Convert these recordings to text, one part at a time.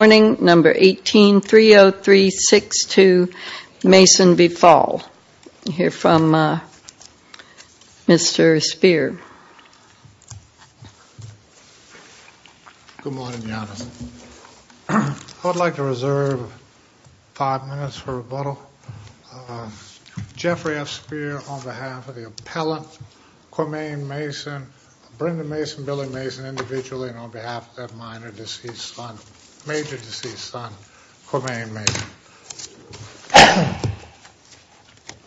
Good morning, number 18-30362, Mason v. Fall. I'd like to reserve five minutes for rebuttal. Jeffrey F. Speer on behalf of the appellant, Cormaine Mason, Brendan Mason, Billy Mason individually, and on behalf of that minor deceased son, major deceased son, Cormaine Mason.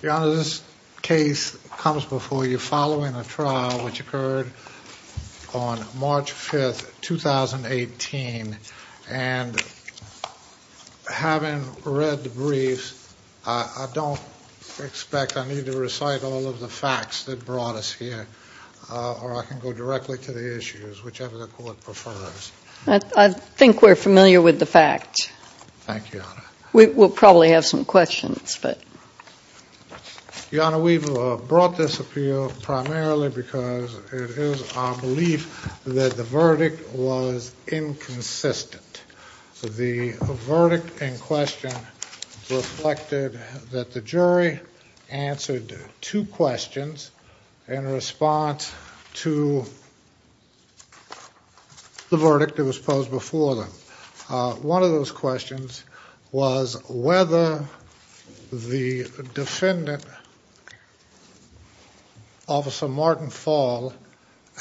Your Honor, this case comes before you following a trial which occurred on March 5th, 2018. And having read the briefs, I don't expect I need to recite all of the facts that brought us here. Or I can go directly to the issues, whichever the court prefers. I think we're familiar with the facts. Thank you, Your Honor. We'll probably have some questions, but... Your Honor, we've brought this appeal primarily because it is our belief that the verdict was inconsistent. The verdict in question reflected that the jury answered two questions in response to the verdict that was posed before them. One of those questions was whether the defendant, Officer Martin Fall,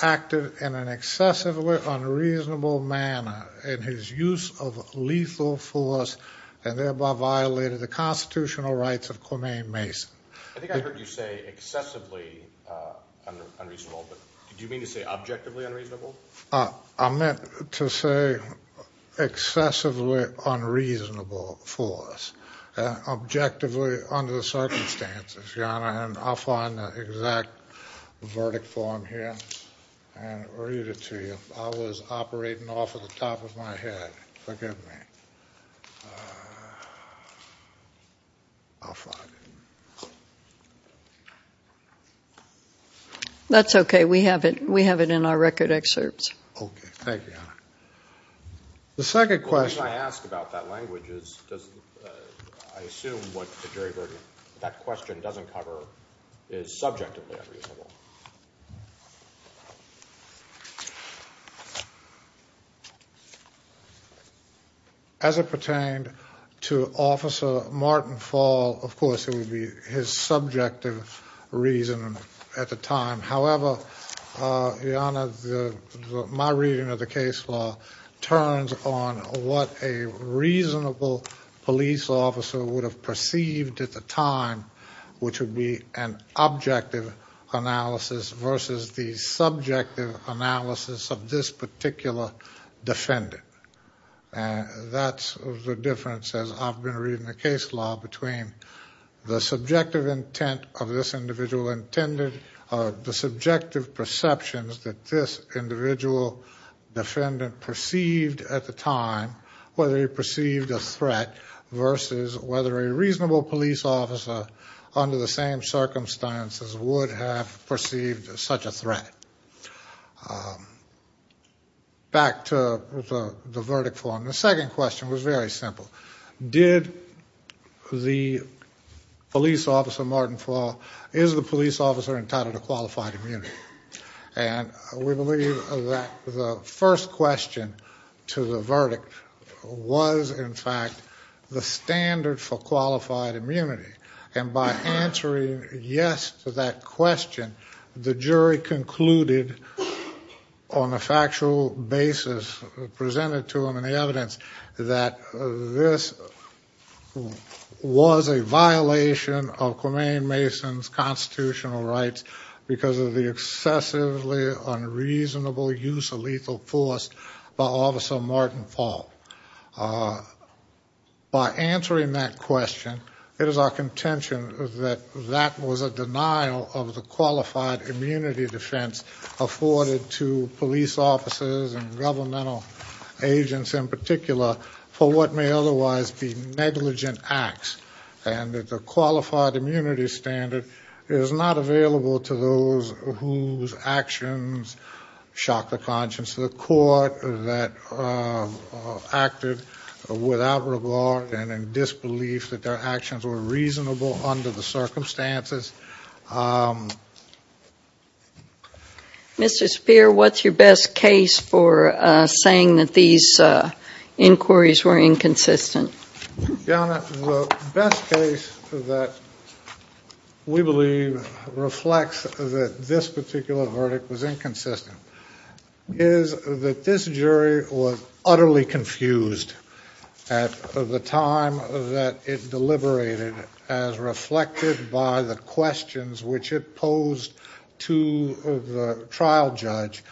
acted in an excessively unreasonable manner in his use of lethal force and thereby violated the constitutional rights of Cormaine Mason. I think I heard you say excessively unreasonable, but did you mean to say objectively unreasonable? I meant to say excessively unreasonable force, objectively under the circumstances, Your Honor. And I'll find the exact verdict form here and read it to you. I was operating off of the top of my head. Forgive me. I'll find it. That's okay. We have it in our record excerpts. Thank you, Your Honor. The second question... The reason I ask about that language is I assume what the jury verdict, that question doesn't cover, is subjectively unreasonable. As it pertained to Officer Martin Fall, of course it would be his subjective reason at the time. However, Your Honor, my reading of the case law turns on what a reasonable police officer would have perceived at the time, which would be an objective analysis versus the subjective analysis of this particular defendant. And that's the difference, as I've been reading the case law, between the subjective intent of this individual intended, the subjective perceptions that this individual defendant perceived at the time, whether he perceived a threat, versus whether a reasonable police officer under the same circumstances would have perceived such a threat. Back to the verdict form. The second question was very simple. Did the police officer, Martin Fall, is the police officer entitled to qualified immunity? And we believe that the first question to the verdict was, in fact, the standard for qualified immunity. And by answering yes to that question, the jury concluded on a factual basis, presented to them in the evidence, that this was a violation of Clemaine Mason's constitutional rights because of the excessively unreasonable use of lethal force by Officer Martin Fall. By answering that question, it is our contention that that was a denial of the qualified immunity defense afforded to police officers and governmental agents in particular for what may otherwise be negligent acts, and that the qualified immunity standard is not available to those whose actions shock the conscience of the court, that acted without regard and in disbelief that their actions were reasonable under the circumstances. Mr. Speer, what's your best case for saying that these inquiries were inconsistent? Your Honor, the best case that we believe reflects that this particular verdict was inconsistent is that this jury was utterly confused at the time that it deliberated as reflected by the questions which it posed to the trial judge,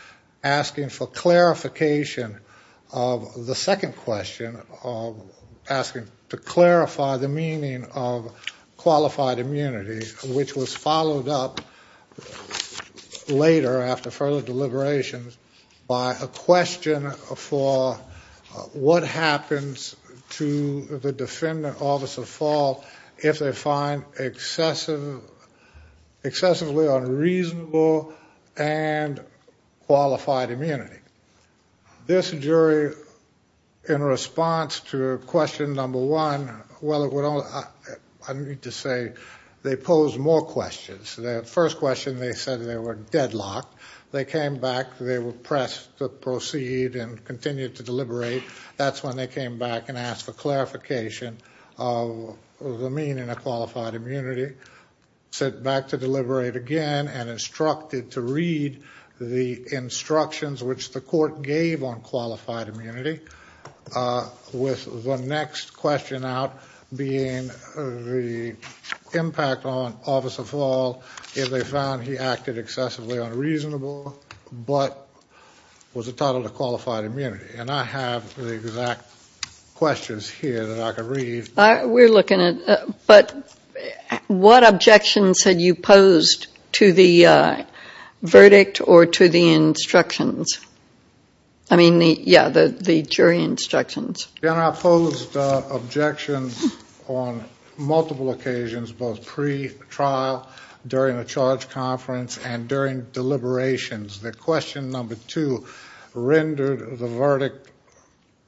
asking for clarification of the second question, asking to clarify the meaning of qualified immunity, which was followed up later after further deliberations by a question for what happens to the defendant, Officer Fall, if they find excessively unreasonable and qualified immunity. This jury, in response to question number one, well, I need to say they posed more questions. The first question, they said they were deadlocked. They came back. They were pressed to proceed and continue to deliberate. That's when they came back and asked for clarification of the meaning of qualified immunity, said back to deliberate again and instructed to read the instructions which the court gave on qualified immunity, with the next question out being the impact on Officer Fall if they found he acted excessively unreasonable but was entitled to qualified immunity. And I have the exact questions here that I could read. We're looking at, but what objections had you posed to the verdict or to the instructions? I mean, yeah, the jury instructions. I posed objections on multiple occasions, both pre-trial, during a charge conference, and during deliberations. The question number two rendered the verdict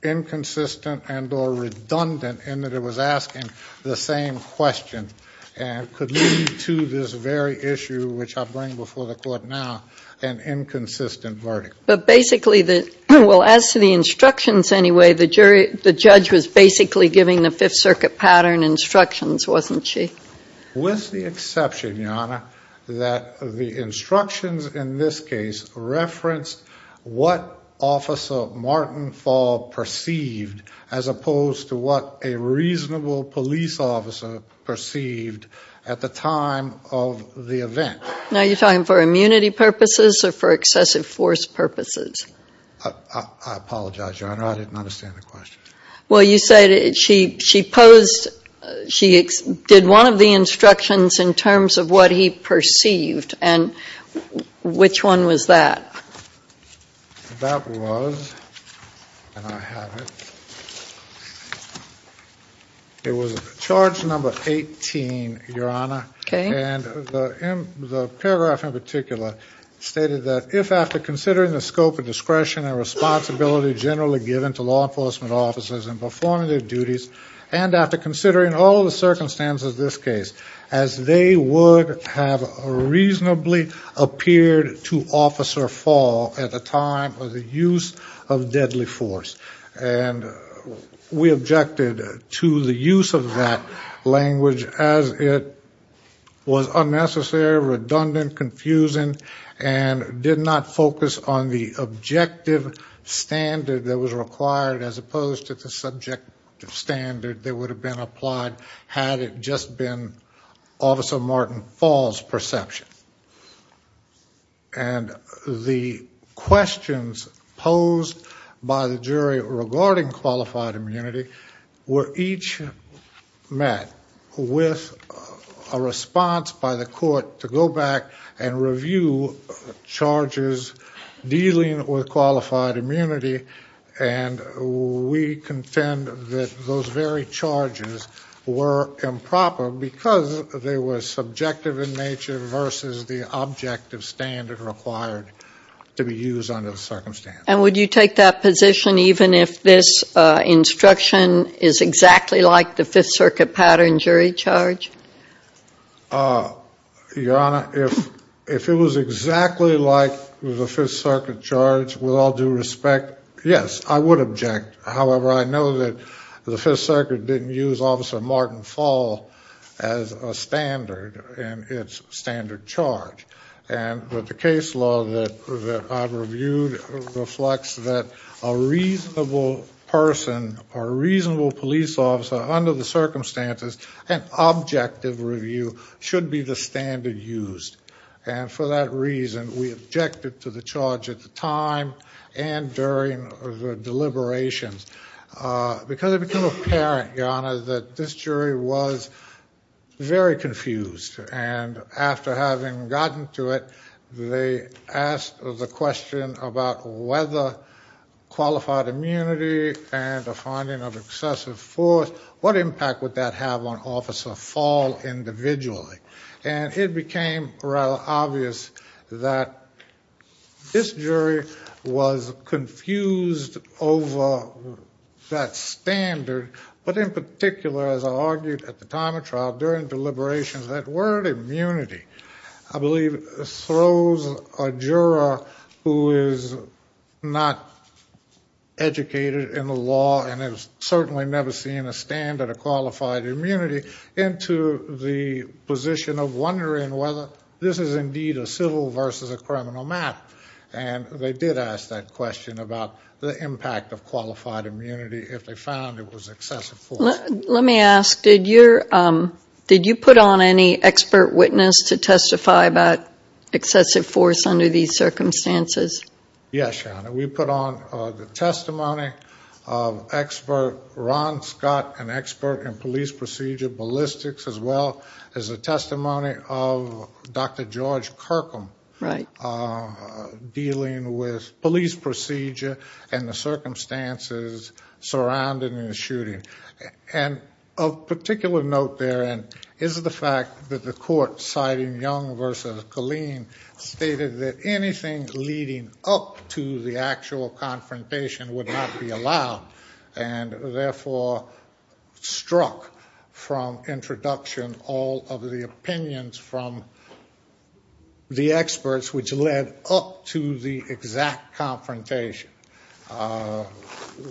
inconsistent and or redundant in that it was asking the same question and could lead to this very issue, which I bring before the court now, an inconsistent verdict. But basically, well, as to the instructions anyway, the judge was basically giving the Fifth Circuit pattern instructions, wasn't she? With the exception, Your Honor, that the instructions in this case referenced what Officer Martin Fall perceived as opposed to what a reasonable police officer perceived at the time of the event. Now, you're talking for immunity purposes or for excessive force purposes? I apologize, Your Honor. I didn't understand the question. Well, you said she posed, she did one of the instructions in terms of what he perceived. And which one was that? That was, and I have it, it was charge number 18, Your Honor. Okay. And the paragraph in particular stated that, if after considering the scope of discretion and responsibility generally given to law enforcement officers in performing their duties, and after considering all the circumstances of this case, as they would have reasonably appeared to Officer Fall at the time of the use of deadly force. And we objected to the use of that language as it was unnecessary, redundant, confusing, and did not focus on the objective standard that was required as opposed to the subjective standard that would have been applied had it just been Officer Martin Fall's perception. And the questions posed by the jury regarding qualified immunity were each met with a response by the court to go back and review charges dealing with qualified immunity, and we contend that those very charges were improper because they were subjective in nature versus the objective standard required to be used under the circumstances. And would you take that position even if this instruction is exactly like the Fifth Circuit pattern jury charge? Your Honor, if it was exactly like the Fifth Circuit charge, with all due respect, yes, I would object. However, I know that the Fifth Circuit didn't use Officer Martin Fall as a standard in its standard charge. And with the case law that I've reviewed reflects that a reasonable person or a reasonable police officer under the circumstances, an objective review should be the standard used. And for that reason, we objected to the charge at the time and during the deliberations. Because it became apparent, Your Honor, that this jury was very confused. And after having gotten to it, they asked the question about whether qualified immunity and the finding of excessive force, what impact would that have on Officer Fall individually? And it became rather obvious that this jury was confused over that standard, but in particular, as I argued at the time of trial, during deliberations, that word immunity, I believe, throws a juror who is not educated in the law and has certainly never seen a standard of qualified immunity into the position of wondering whether this is indeed a civil versus a criminal matter. And they did ask that question about the impact of qualified immunity if they found it was excessive force. Let me ask, did you put on any expert witness to testify about excessive force under these circumstances? Yes, Your Honor. We put on the testimony of expert Ron Scott, an expert in police procedure, ballistics, as well as the testimony of Dr. George Kirkham. Right. Dealing with police procedure and the circumstances surrounding the shooting. And of particular note therein is the fact that the court, citing Young versus Killeen, stated that anything leading up to the actual confrontation would not be allowed and therefore struck from introduction all of the opinions from the experts which led up to the exact confrontation.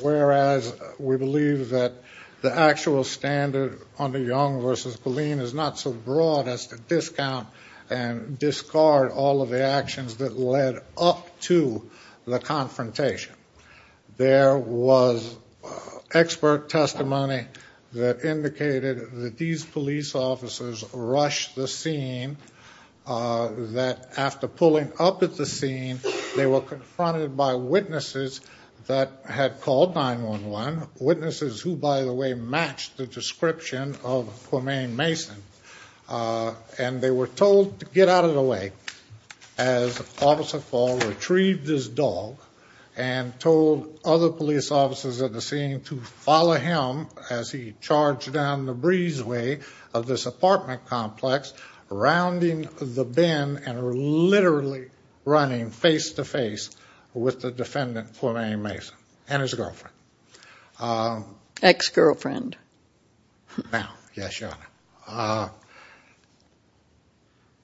Whereas we believe that the actual standard under Young versus Killeen is not so broad as to discount and discard all of the actions that led up to the confrontation. There was expert testimony that indicated that these police officers rushed the scene, that after pulling up at the scene they were confronted by witnesses that had called 911. Witnesses who, by the way, matched the description of Khomein Mason. And they were told to get out of the way as Officer Paul retrieved his dog and told other police officers at the scene to follow him as he charged down the breezeway of this apartment complex, rounding the bend and literally running face to face with the defendant, Khomein Mason, and his girlfriend. Ex-girlfriend. Now, yes, Your Honor.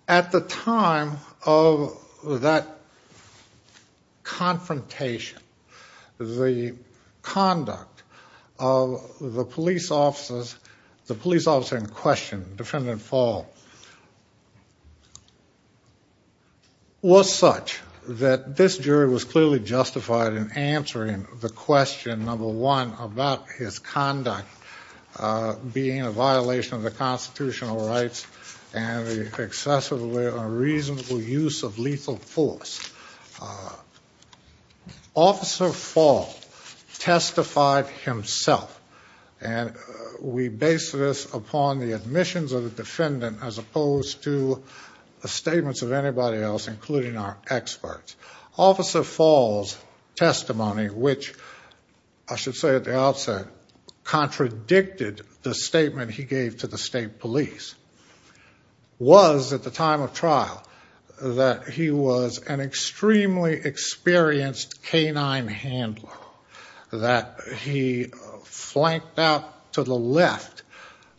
At the time of that confrontation, the conduct of the police officers, the police officer in question, Defendant Paul, was such that this jury was clearly justified in answering the question, number one, about his conduct. Being a violation of the constitutional rights and the excessive or reasonable use of lethal force. Officer Paul testified himself, and we base this upon the admissions of the defendant as opposed to the statements of anybody else, including our experts. Officer Paul's testimony, which I should say at the outset, contradicted the statement he gave to the state police, was, at the time of trial, that he was an extremely experienced canine handler. That he flanked out to the left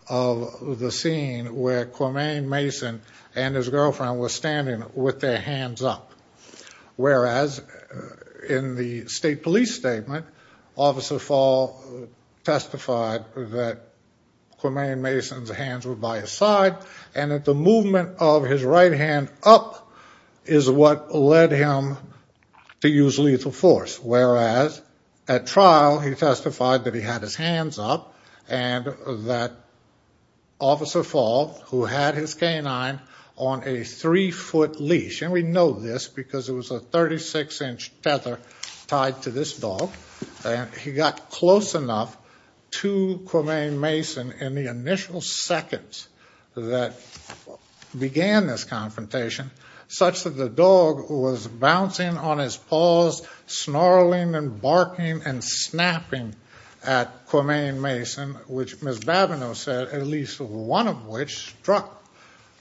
of the scene where Khomein Mason and his girlfriend were standing with their hands up. Whereas, in the state police statement, Officer Paul testified that Khomein Mason's hands were by his side and that the movement of his right hand up is what led him to use lethal force. Whereas, at trial, he testified that he had his hands up and that Officer Paul, who had his canine on a three-foot leash, and we know this because it was a 36-inch tether tied to this dog, he got close enough to Khomein Mason in the initial seconds that began this confrontation such that the dog was bouncing on his paws, snarling and barking and snapping at Khomein Mason, which Ms. Babineau said at least one of which struck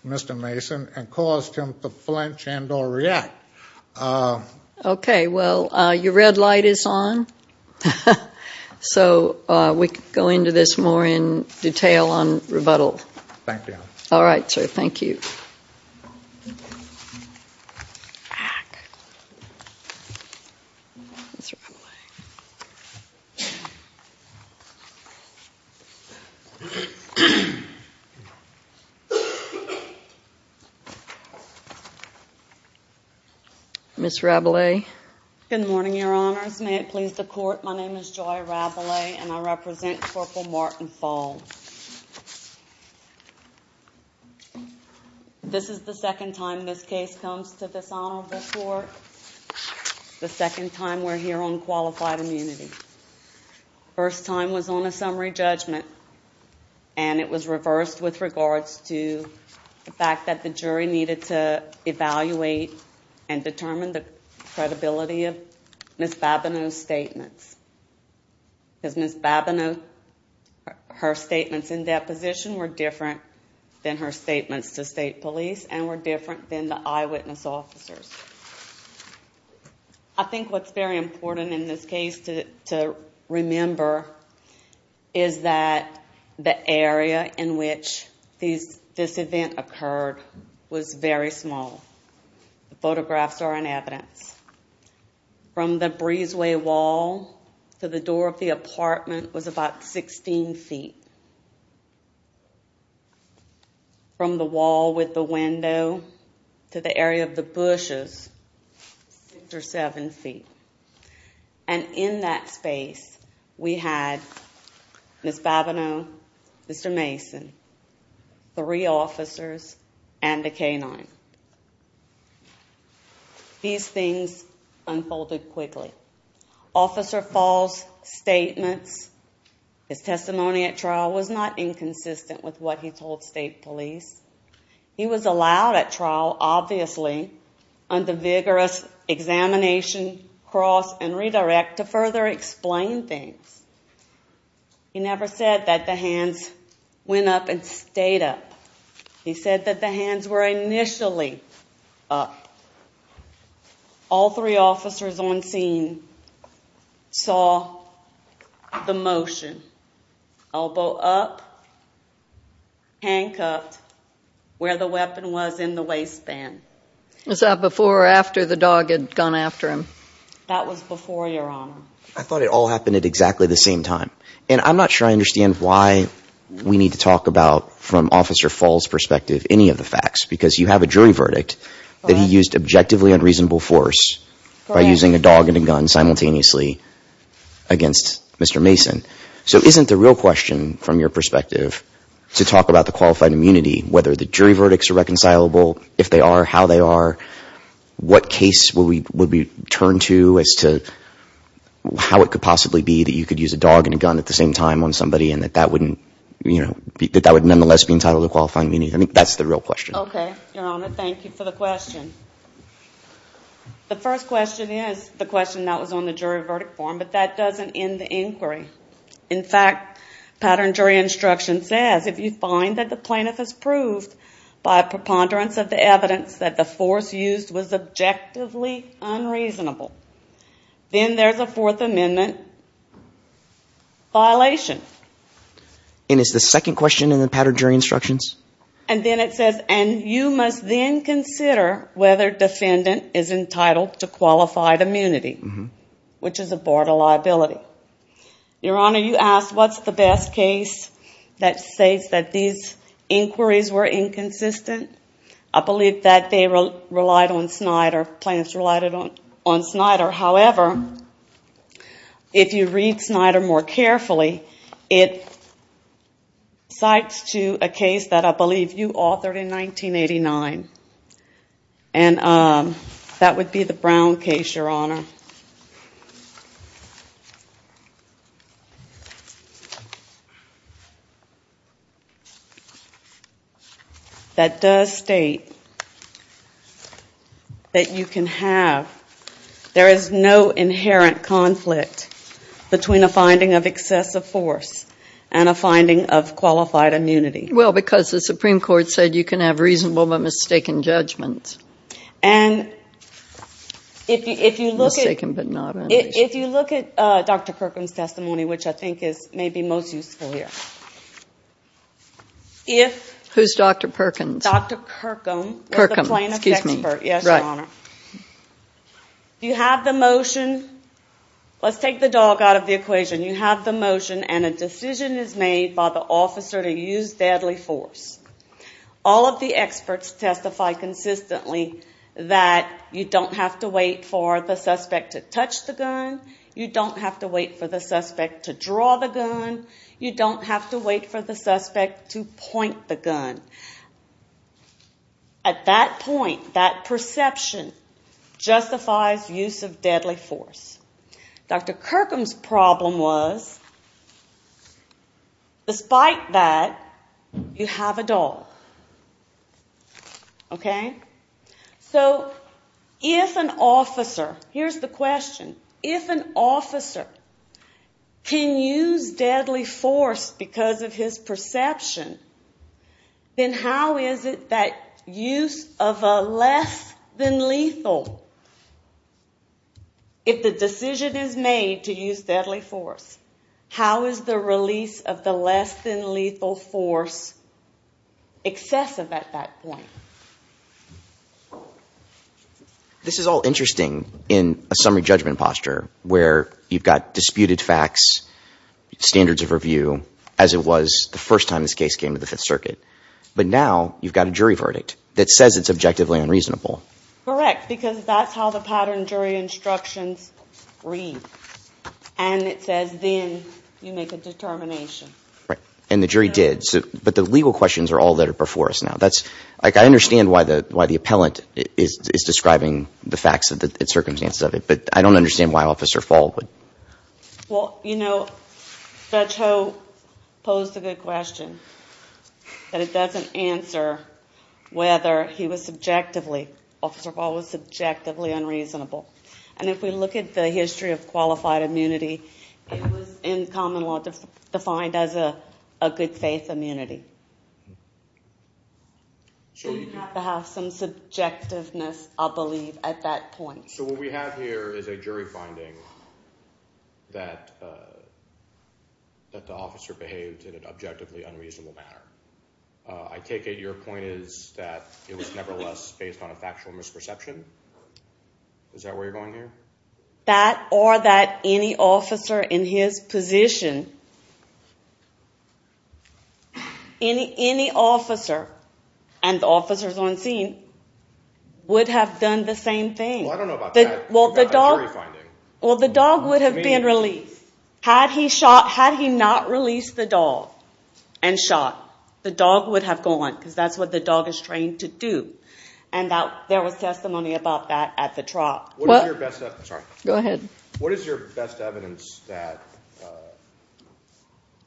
Mr. Mason and caused him to flinch and or react. Okay. Well, your red light is on. So we can go into this more in detail on rebuttal. Thank you. All right, sir. Thank you. Ms. Rabelais. Good morning, Your Honors. May it please the Court, my name is Joy Rabelais and I represent Corporal Martin Fall. This is the second time this case comes to this honorable court, the second time we're here on qualified immunity. First time was on a summary judgment, and it was reversed with regards to the fact that the jury needed to evaluate and determine the credibility of Ms. Babineau's statements. Ms. Babineau, her statements in deposition were different than her statements to state police and were different than the eyewitness officers. I think what's very important in this case to remember is that the area in which this event occurred was very small. Photographs are an evidence. From the breezeway wall to the door of the apartment was about 16 feet. From the wall with the window to the area of the bushes, six or seven feet. And in that space, we had Ms. Babineau, Mr. Mason, three officers, and a canine. These things unfolded quickly. Officer Fall's statements, his testimony at trial, was not inconsistent with what he told state police. He was allowed at trial, obviously, under vigorous examination, cross, and redirect to further explain things. He never said that the hands went up and stayed up. He said that the hands were initially up. All three officers on scene saw the motion. Elbow up, handcuffed, where the weapon was in the waistband. Was that before or after the dog had gone after him? That was before, Your Honor. I thought it all happened at exactly the same time. And I'm not sure I understand why we need to talk about, from Officer Fall's perspective, any of the facts. Because you have a jury verdict that he used objectively unreasonable force by using a dog and a gun simultaneously against Mr. Mason. So isn't the real question, from your perspective, to talk about the qualified immunity, whether the jury verdicts are reconcilable, if they are, how they are, what case would we turn to as to how it could possibly be that you could use a dog and a gun at the same time on somebody and that that would nonetheless be entitled to qualified immunity? I think that's the real question. Okay, Your Honor. Thank you for the question. The first question is the question that was on the jury verdict form, but that doesn't end the inquiry. In fact, pattern jury instruction says, if you find that the plaintiff has proved by preponderance of the evidence that the force used was objectively unreasonable, then there's a Fourth Amendment violation. And is the second question in the pattern jury instructions? And then it says, and you must then consider whether defendant is entitled to qualified immunity, which is a board of liability. Your Honor, you asked what's the best case that states that these inquiries were inconsistent. I believe that they relied on Snyder, plaintiffs relied on Snyder. However, if you read Snyder more carefully, it cites to a case that I believe you authored in 1989. And that would be the Brown case, Your Honor. That does state that you can have, there is no inherent conflict between a finding of excessive force and a finding of qualified immunity. Well, because the Supreme Court said you can have reasonable but mistaken judgments. And if you look at Dr. Kirkham's testimony, which I think is maybe most useful here. Who's Dr. Kirkham? Dr. Kirkham. Kirkham, excuse me. Yes, Your Honor. You have the motion, let's take the dog out of the equation. You have the motion and a decision is made by the officer to use deadly force. All of the experts testify consistently that you don't have to wait for the suspect to touch the gun. You don't have to wait for the suspect to draw the gun. You don't have to wait for the suspect to point the gun. At that point, that perception justifies use of deadly force. Dr. Kirkham's problem was, despite that, you have a dog. Okay? So, if an officer, here's the question. If an officer can use deadly force because of his perception, then how is it that use of a less than lethal? If the decision is made to use deadly force, how is the release of the less than lethal force excessive at that point? This is all interesting in a summary judgment posture where you've got disputed facts, standards of review, as it was the first time this case came to the Fifth Circuit. But now, you've got a jury verdict that says it's objectively unreasonable. Correct, because that's how the pattern jury instructions read. And it says, then you make a determination. Right. And the jury did. But the legal questions are all that are before us now. That's, like, I understand why the appellant is describing the facts and circumstances of it, but I don't understand why Officer Fall would. Well, you know, Judge Ho posed a good question, but it doesn't answer whether he was subjectively, Officer Fall was subjectively unreasonable. And if we look at the history of qualified immunity, it was in common law defined as a good faith immunity. So you have to have some subjectiveness, I believe, at that point. So what we have here is a jury finding that the officer behaved in an objectively unreasonable manner. I take it your point is that it was nevertheless based on a factual misperception? Is that where you're going here? That or that any officer in his position, any officer, and the officers on scene, would have done the same thing. Well, I don't know about that. Well, the dog would have been released. Had he not released the dog and shot, the dog would have gone, because that's what the dog is trained to do. And there was testimony about that at the trial. What is your best evidence that,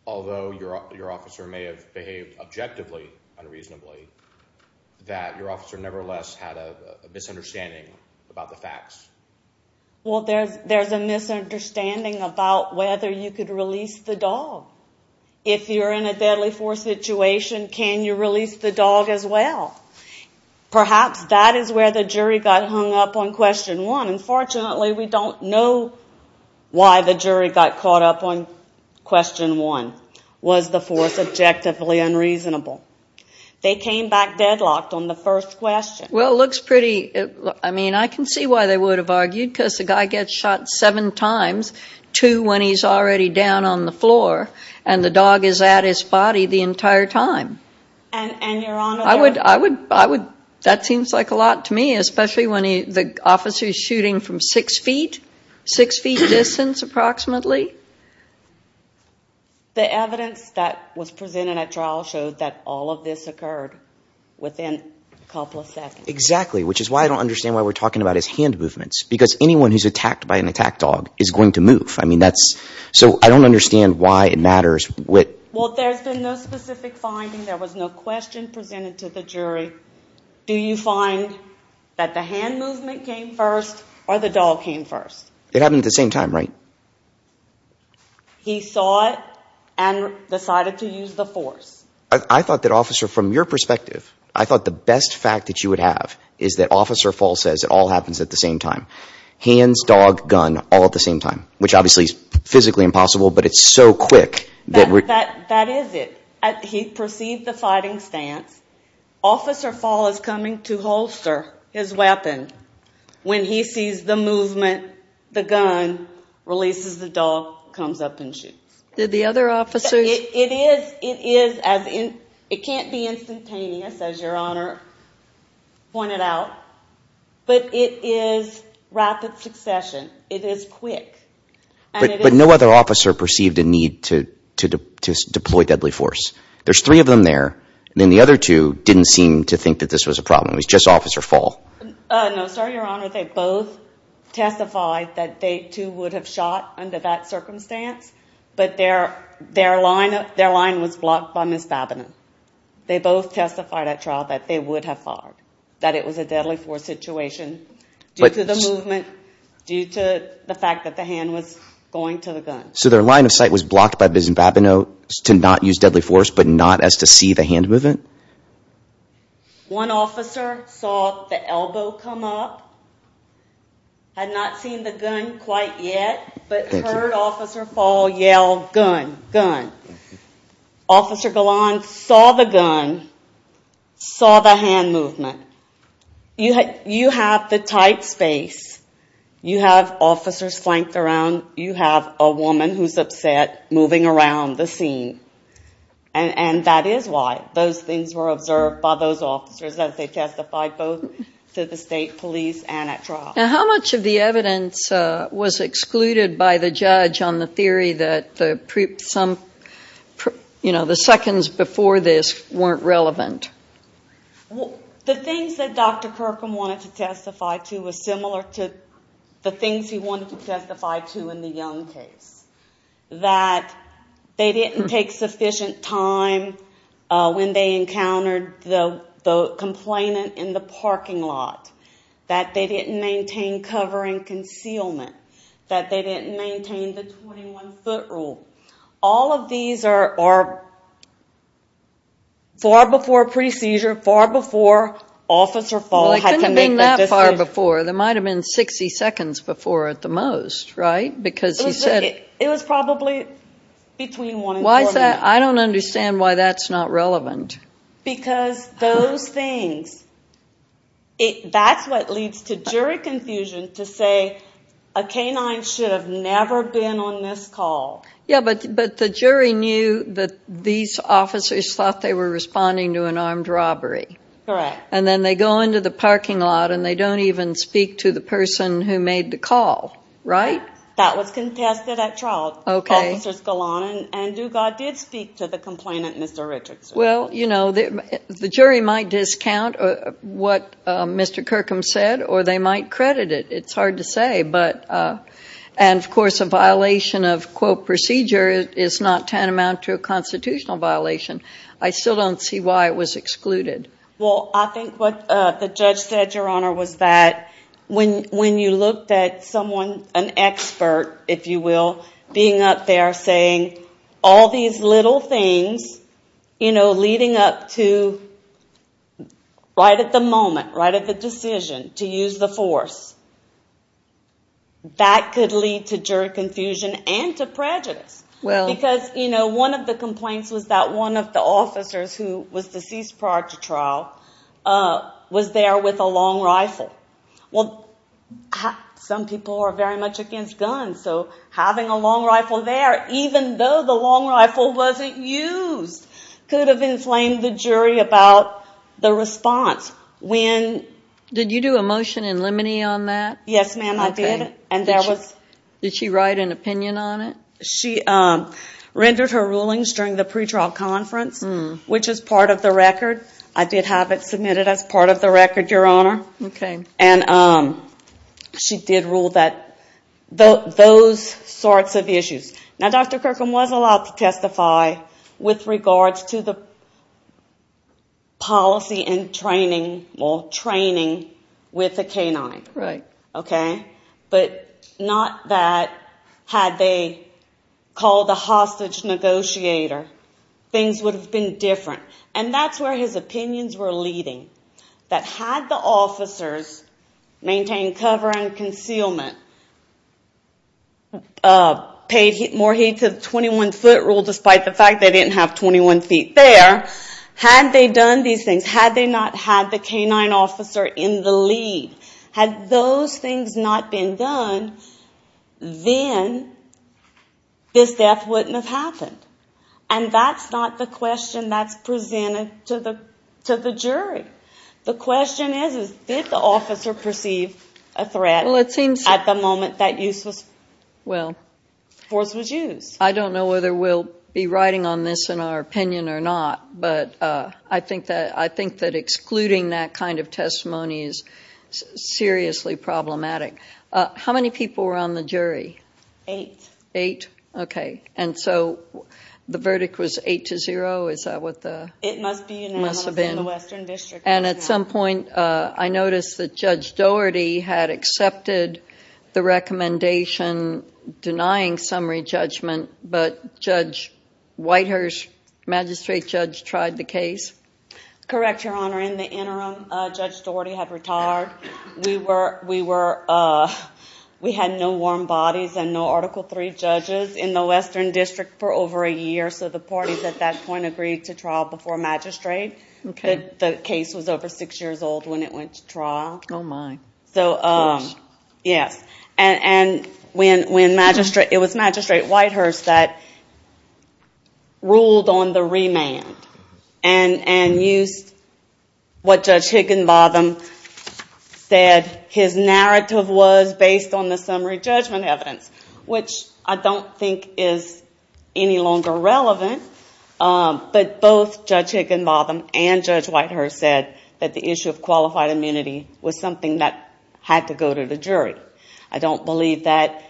although your officer may have behaved objectively unreasonably, that your officer nevertheless had a misunderstanding about the facts? Well, there's a misunderstanding about whether you could release the dog. If you're in a deadly force situation, can you release the dog as well? Perhaps that is where the jury got hung up on question one. Unfortunately, we don't know why the jury got caught up on question one. Was the force objectively unreasonable? They came back deadlocked on the first question. Well, it looks pretty—I mean, I can see why they would have argued, because the guy gets shot seven times, two when he's already down on the floor, and the dog is at his body the entire time. And, Your Honor— That seems like a lot to me, especially when the officer is shooting from six feet, six feet distance approximately. The evidence that was presented at trial showed that all of this occurred within a couple of seconds. Exactly, which is why I don't understand why we're talking about his hand movements, because anyone who's attacked by an attack dog is going to move. I mean, that's—so I don't understand why it matters what— Well, there's been no specific finding. There was no question presented to the jury. Do you find that the hand movement came first or the dog came first? It happened at the same time, right? He saw it and decided to use the force. I thought that, Officer, from your perspective, I thought the best fact that you would have is that Officer Fall says it all happens at the same time. Hands, dog, gun, all at the same time, which obviously is physically impossible, but it's so quick that we're— That is it. He perceived the fighting stance. Officer Fall is coming to holster his weapon when he sees the movement, the gun, releases the dog, comes up and shoots. Did the other officers— It is as in—it can't be instantaneous, as Your Honor pointed out, but it is rapid succession. It is quick, and it is— But no other officer perceived a need to deploy deadly force. There's three of them there, and then the other two didn't seem to think that this was a problem. It was just Officer Fall. No, sir, Your Honor, they both testified that they, too, would have shot under that circumstance, but their line was blocked by Ms. Babineau. They both testified at trial that they would have fired, that it was a deadly force situation due to the movement, due to the fact that the hand was going to the gun. So their line of sight was blocked by Ms. Babineau to not use deadly force, but not as to see the hand movement? One officer saw the elbow come up, had not seen the gun quite yet, but heard Officer Fall yell, gun, gun. Officer Galan saw the gun, saw the hand movement. You have the tight space. You have officers flanked around. You have a woman who's upset moving around the scene, and that is why those things were observed by those officers, that they testified both to the state police and at trial. Now, how much of the evidence was excluded by the judge on the theory that some, you know, the seconds before this weren't relevant? The things that Dr. Kirkham wanted to testify to was similar to the things he wanted to testify to in the Young case, that they didn't take sufficient time when they encountered the complainant in the parking lot, that they didn't maintain cover and concealment, that they didn't maintain the 21-foot rule. All of these are far before pre-seizure, far before Officer Fall had to make that decision. Well, it couldn't have been that far before. There might have been 60 seconds before at the most, right, because he said. It was probably between one and four minutes. Why is that? I don't understand why that's not relevant. Because those things, that's what leads to jury confusion to say a canine should have never been on this call. Yeah, but the jury knew that these officers thought they were responding to an armed robbery. Correct. And then they go into the parking lot and they don't even speak to the person who made the call, right? That was contested at trial. Okay. Officers Galan and Dugas did speak to the complainant, Mr. Richardson. Well, you know, the jury might discount what Mr. Kirkham said or they might credit it. It's hard to say. And, of course, a violation of quote procedure is not tantamount to a constitutional violation. I still don't see why it was excluded. Well, I think what the judge said, Your Honor, was that when you looked at someone, an expert, if you will, being up there saying all these little things, you know, leading up to right at the moment, right at the decision to use the force, that could lead to jury confusion and to prejudice. Because, you know, one of the complaints was that one of the officers who was deceased prior to trial was there with a long rifle. Well, some people are very much against guns, so having a long rifle there, even though the long rifle wasn't used, could have inflamed the jury about the response. Did you do a motion in limine on that? Yes, ma'am, I did. Did she write an opinion on it? She rendered her rulings during the pretrial conference, which is part of the record. I did have it submitted as part of the record, Your Honor. Okay. And she did rule those sorts of issues. Now, Dr. Kirkham was allowed to testify with regards to the policy and training with the canine. Right. Okay? But not that had they called a hostage negotiator, things would have been different. And that's where his opinions were leading, that had the officers maintained cover and concealment, paid more heed to the 21-foot rule despite the fact they didn't have 21 feet there, had they done these things, had they not had the canine officer in the lead, had those things not been done, then this death wouldn't have happened. And that's not the question that's presented to the jury. The question is, did the officer perceive a threat at the moment that force was used? I don't know whether we'll be writing on this in our opinion or not, but I think that excluding that kind of testimony is seriously problematic. How many people were on the jury? Eight. Eight? Okay. And so the verdict was eight to zero? Is that what it must have been? It must be unanimous in the Western District. And at some point I noticed that Judge Doherty had accepted the recommendation denying summary judgment, but Judge Whitehurst, magistrate judge, tried the case? Correct, Your Honor. In the interim, Judge Doherty had retired. We had no warm bodies and no Article III judges in the Western District for over a year, so the parties at that point agreed to trial before magistrate. The case was over six years old when it went to trial. Oh, my gosh. Yes. It was Magistrate Whitehurst that ruled on the remand and used what Judge Higginbotham said his narrative was based on the summary judgment evidence, which I don't think is any longer relevant. But both Judge Higginbotham and Judge Whitehurst said that the issue of qualified immunity was something that had to go to the jury. I don't believe that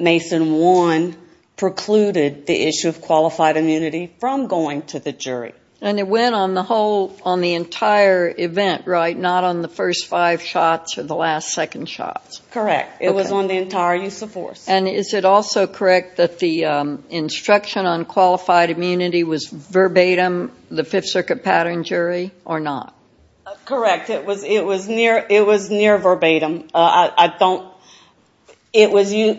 Mason 1 precluded the issue of qualified immunity from going to the jury. And it went on the entire event, right, not on the first five shots or the last second shots? Correct. It was on the entire use of force. And is it also correct that the instruction on qualified immunity was verbatim, the Fifth Circuit pattern jury, or not? Correct. It was near verbatim. It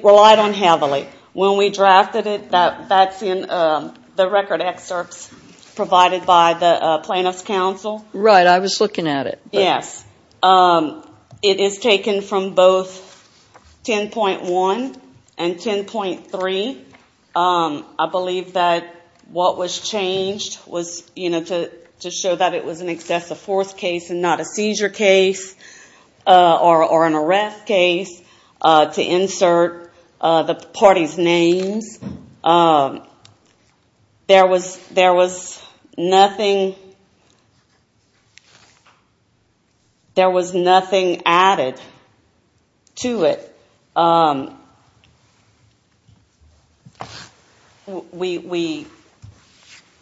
relied on heavily. When we drafted it, that's in the record excerpts provided by the plaintiff's counsel. Right. I was looking at it. Yes. It is taken from both 10.1 and 10.3. I believe that what was changed was to show that it was an excessive force case and not a seizure case or an arrest case to insert the parties' names. There was nothing added to it.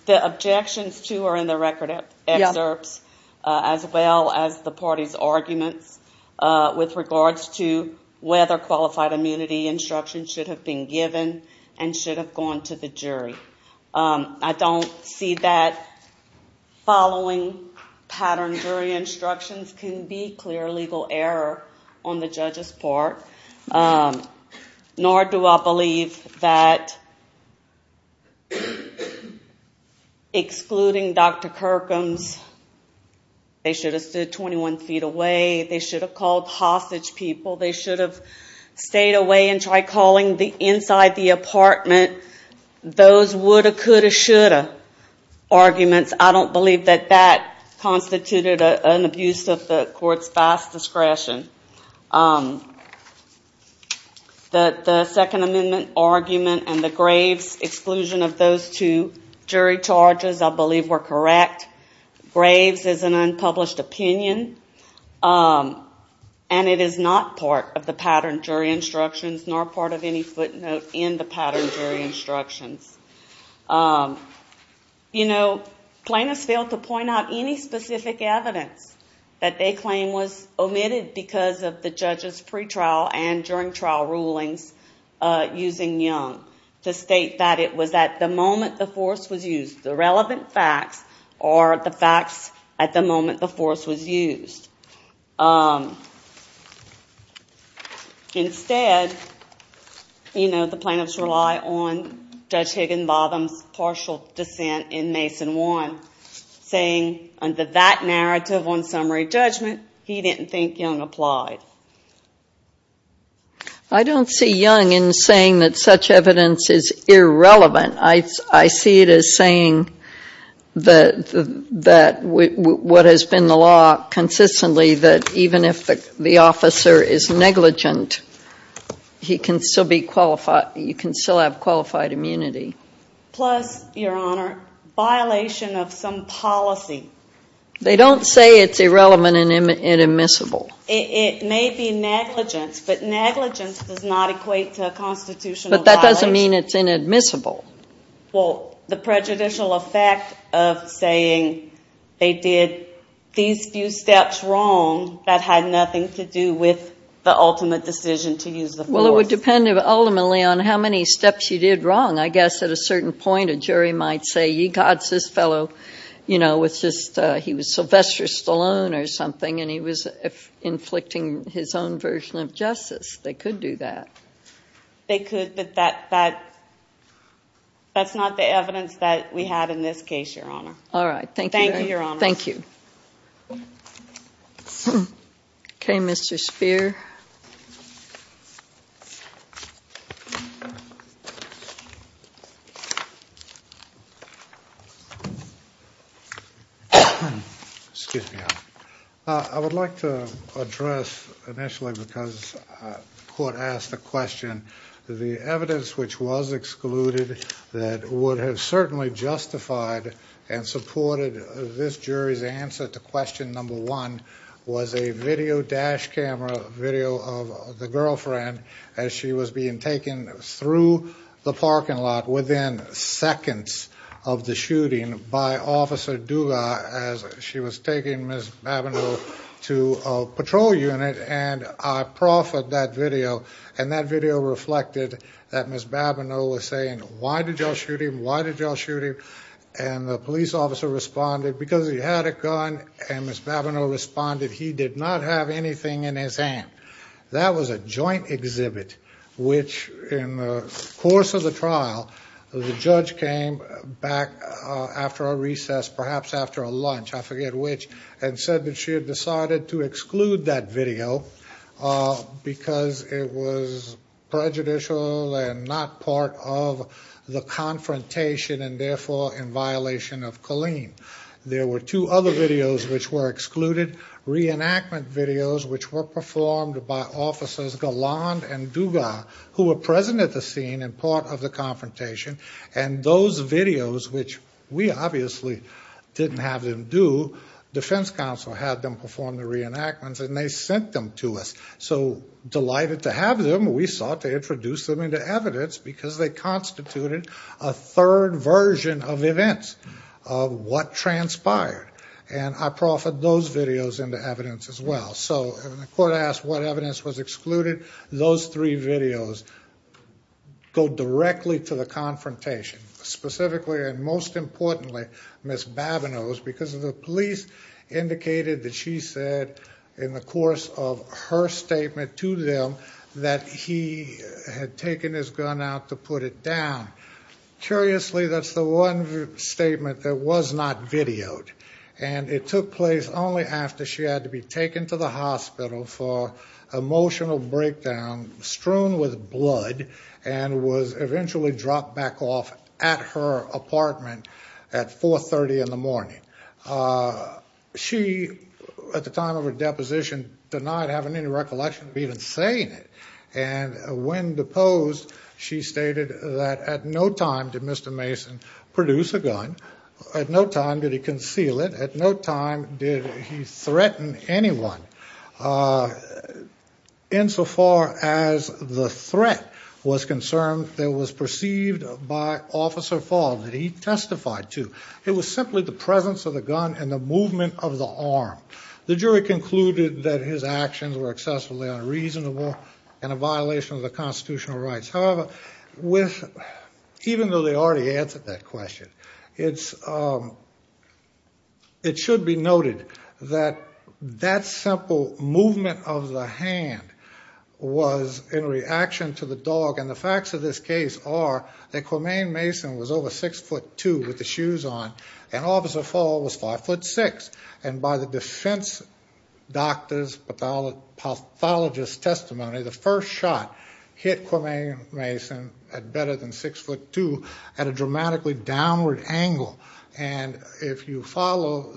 The objections, too, are in the record excerpts as well as the parties' arguments with regards to whether qualified immunity instruction should have been given and should have gone to the jury. I don't see that following pattern jury instructions can be clear legal error on the judge's part, nor do I believe that excluding Dr. Kirkham's, they should have stood 21 feet away, they should have called hostage people, they should have stayed away and tried calling inside the apartment, those woulda, coulda, shoulda arguments. I don't believe that that constituted an abuse of the court's vast discretion. The Second Amendment argument and the Graves exclusion of those two jury charges, I believe, were correct. Graves is an unpublished opinion and it is not part of the pattern jury instructions, nor part of any footnote in the pattern jury instructions. Plaintiffs failed to point out any specific evidence that they claim was omitted because of the judge's pretrial and during trial rulings using Young to state that it was at the moment the force was used, the relevant facts are the facts at the moment the force was used. Instead, you know, the plaintiffs rely on Judge Higginbotham's partial dissent in Mason 1, saying under that narrative on summary judgment, he didn't think Young applied. I don't see Young in saying that such evidence is irrelevant. I see it as saying that what has been the law consistently, that even if the officer is negligent, he can still be qualified, you can still have qualified immunity. Plus, Your Honor, violation of some policy. They don't say it's irrelevant and admissible. It may be negligence, but negligence does not equate to a constitutional violation. But that doesn't mean it's inadmissible. Well, the prejudicial effect of saying they did these few steps wrong, that had nothing to do with the ultimate decision to use the force. Well, it would depend ultimately on how many steps you did wrong. I guess at a certain point a jury might say, God, this fellow, you know, he was Sylvester Stallone or something, and he was inflicting his own version of justice. They could do that. They could, but that's not the evidence that we have in this case, Your Honor. All right. Thank you. Thank you, Your Honor. Thank you. Okay, Mr. Spear. Excuse me, Your Honor. I would like to address initially, because the court asked the question, the evidence which was excluded that would have certainly justified and supported this jury's answer to question number one was a video dash camera video of the girlfriend as she was being taken through the parking lot within seconds of the shooting by Officer Duga as she was taking Ms. Babineau to a patrol unit. And I profited that video, and that video reflected that Ms. Babineau was saying, Why did y'all shoot him? Why did y'all shoot him? And the police officer responded, because he had a gun, and Ms. Babineau responded, he did not have anything in his hand. That was a joint exhibit, which in the course of the trial, the judge came back after a recess, perhaps after a lunch, I forget which, and said that she had decided to exclude that video because it was prejudicial and not part of the confrontation and therefore in violation of Colleen. There were two other videos which were excluded, reenactment videos which were performed by Officers Galland and Duga who were present at the scene and part of the confrontation, and those videos, which we obviously didn't have them do, defense counsel had them perform the reenactments and they sent them to us. So delighted to have them, we sought to introduce them into evidence because they constituted a third version of events, of what transpired. And I proffered those videos into evidence as well. So when the court asked what evidence was excluded, those three videos go directly to the confrontation. Specifically and most importantly, Ms. Babineau, because the police indicated that she said in the course of her statement to them that he had taken his gun out to put it down. Curiously, that's the one statement that was not videoed. And it took place only after she had to be taken to the hospital for emotional breakdown, strewn with blood, and was eventually dropped back off at her apartment at 4.30 in the morning. She, at the time of her deposition, denied having any recollection of even saying it. And when deposed, she stated that at no time did Mr. Mason produce a gun. At no time did he conceal it. At no time did he threaten anyone. Insofar as the threat was concerned, it was perceived by Officer Falls that he testified to. It was simply the presence of the gun and the movement of the arm. The jury concluded that his actions were excessively unreasonable and a violation of the constitutional rights. However, even though they already answered that question, it should be noted that that simple movement of the hand was in reaction to the dog. And the facts of this case are that Cormaine Mason was over 6'2 with the shoes on and Officer Fall was 5'6. And by the defense doctor's pathologist's testimony, the first shot hit Cormaine Mason at better than 6'2 at a dramatically downward angle. And if you follow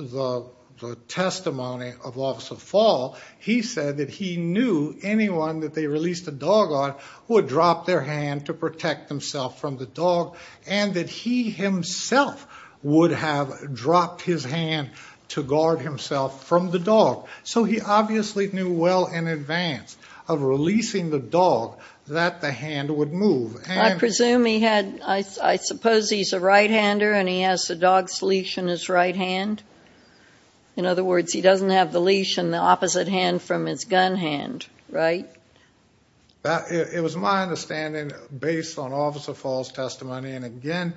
the testimony of Officer Fall, he said that he knew anyone that they released the dog on would drop their hand to protect themselves from the dog and that he himself would have dropped his hand to guard himself from the dog. So he obviously knew well in advance of releasing the dog that the hand would move. I presume he had – I suppose he's a right-hander and he has the dog's leash in his right hand. In other words, he doesn't have the leash in the opposite hand from his gun hand, right? It was my understanding, based on Officer Fall's testimony, and again,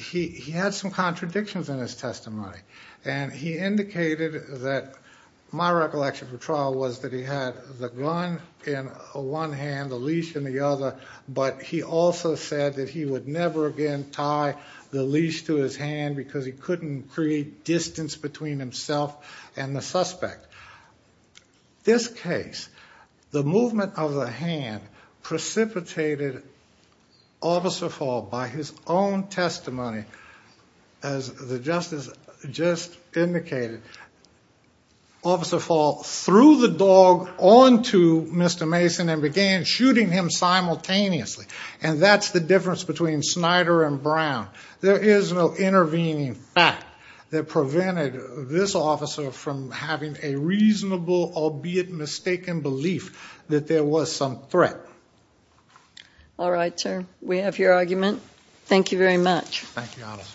he had some contradictions in his testimony. And he indicated that my recollection from trial was that he had the gun in one hand, the leash in the other, but he also said that he would never again tie the leash to his hand because he couldn't create distance between himself and the suspect. This case, the movement of the hand precipitated Officer Fall by his own testimony. As the justice just indicated, Officer Fall threw the dog onto Mr. Mason and began shooting him simultaneously. And that's the difference between Snyder and Brown. There is no intervening fact that prevented this officer from having a reasonable, albeit mistaken, belief that there was some threat. All right, sir. We have your argument. Thank you, Honest.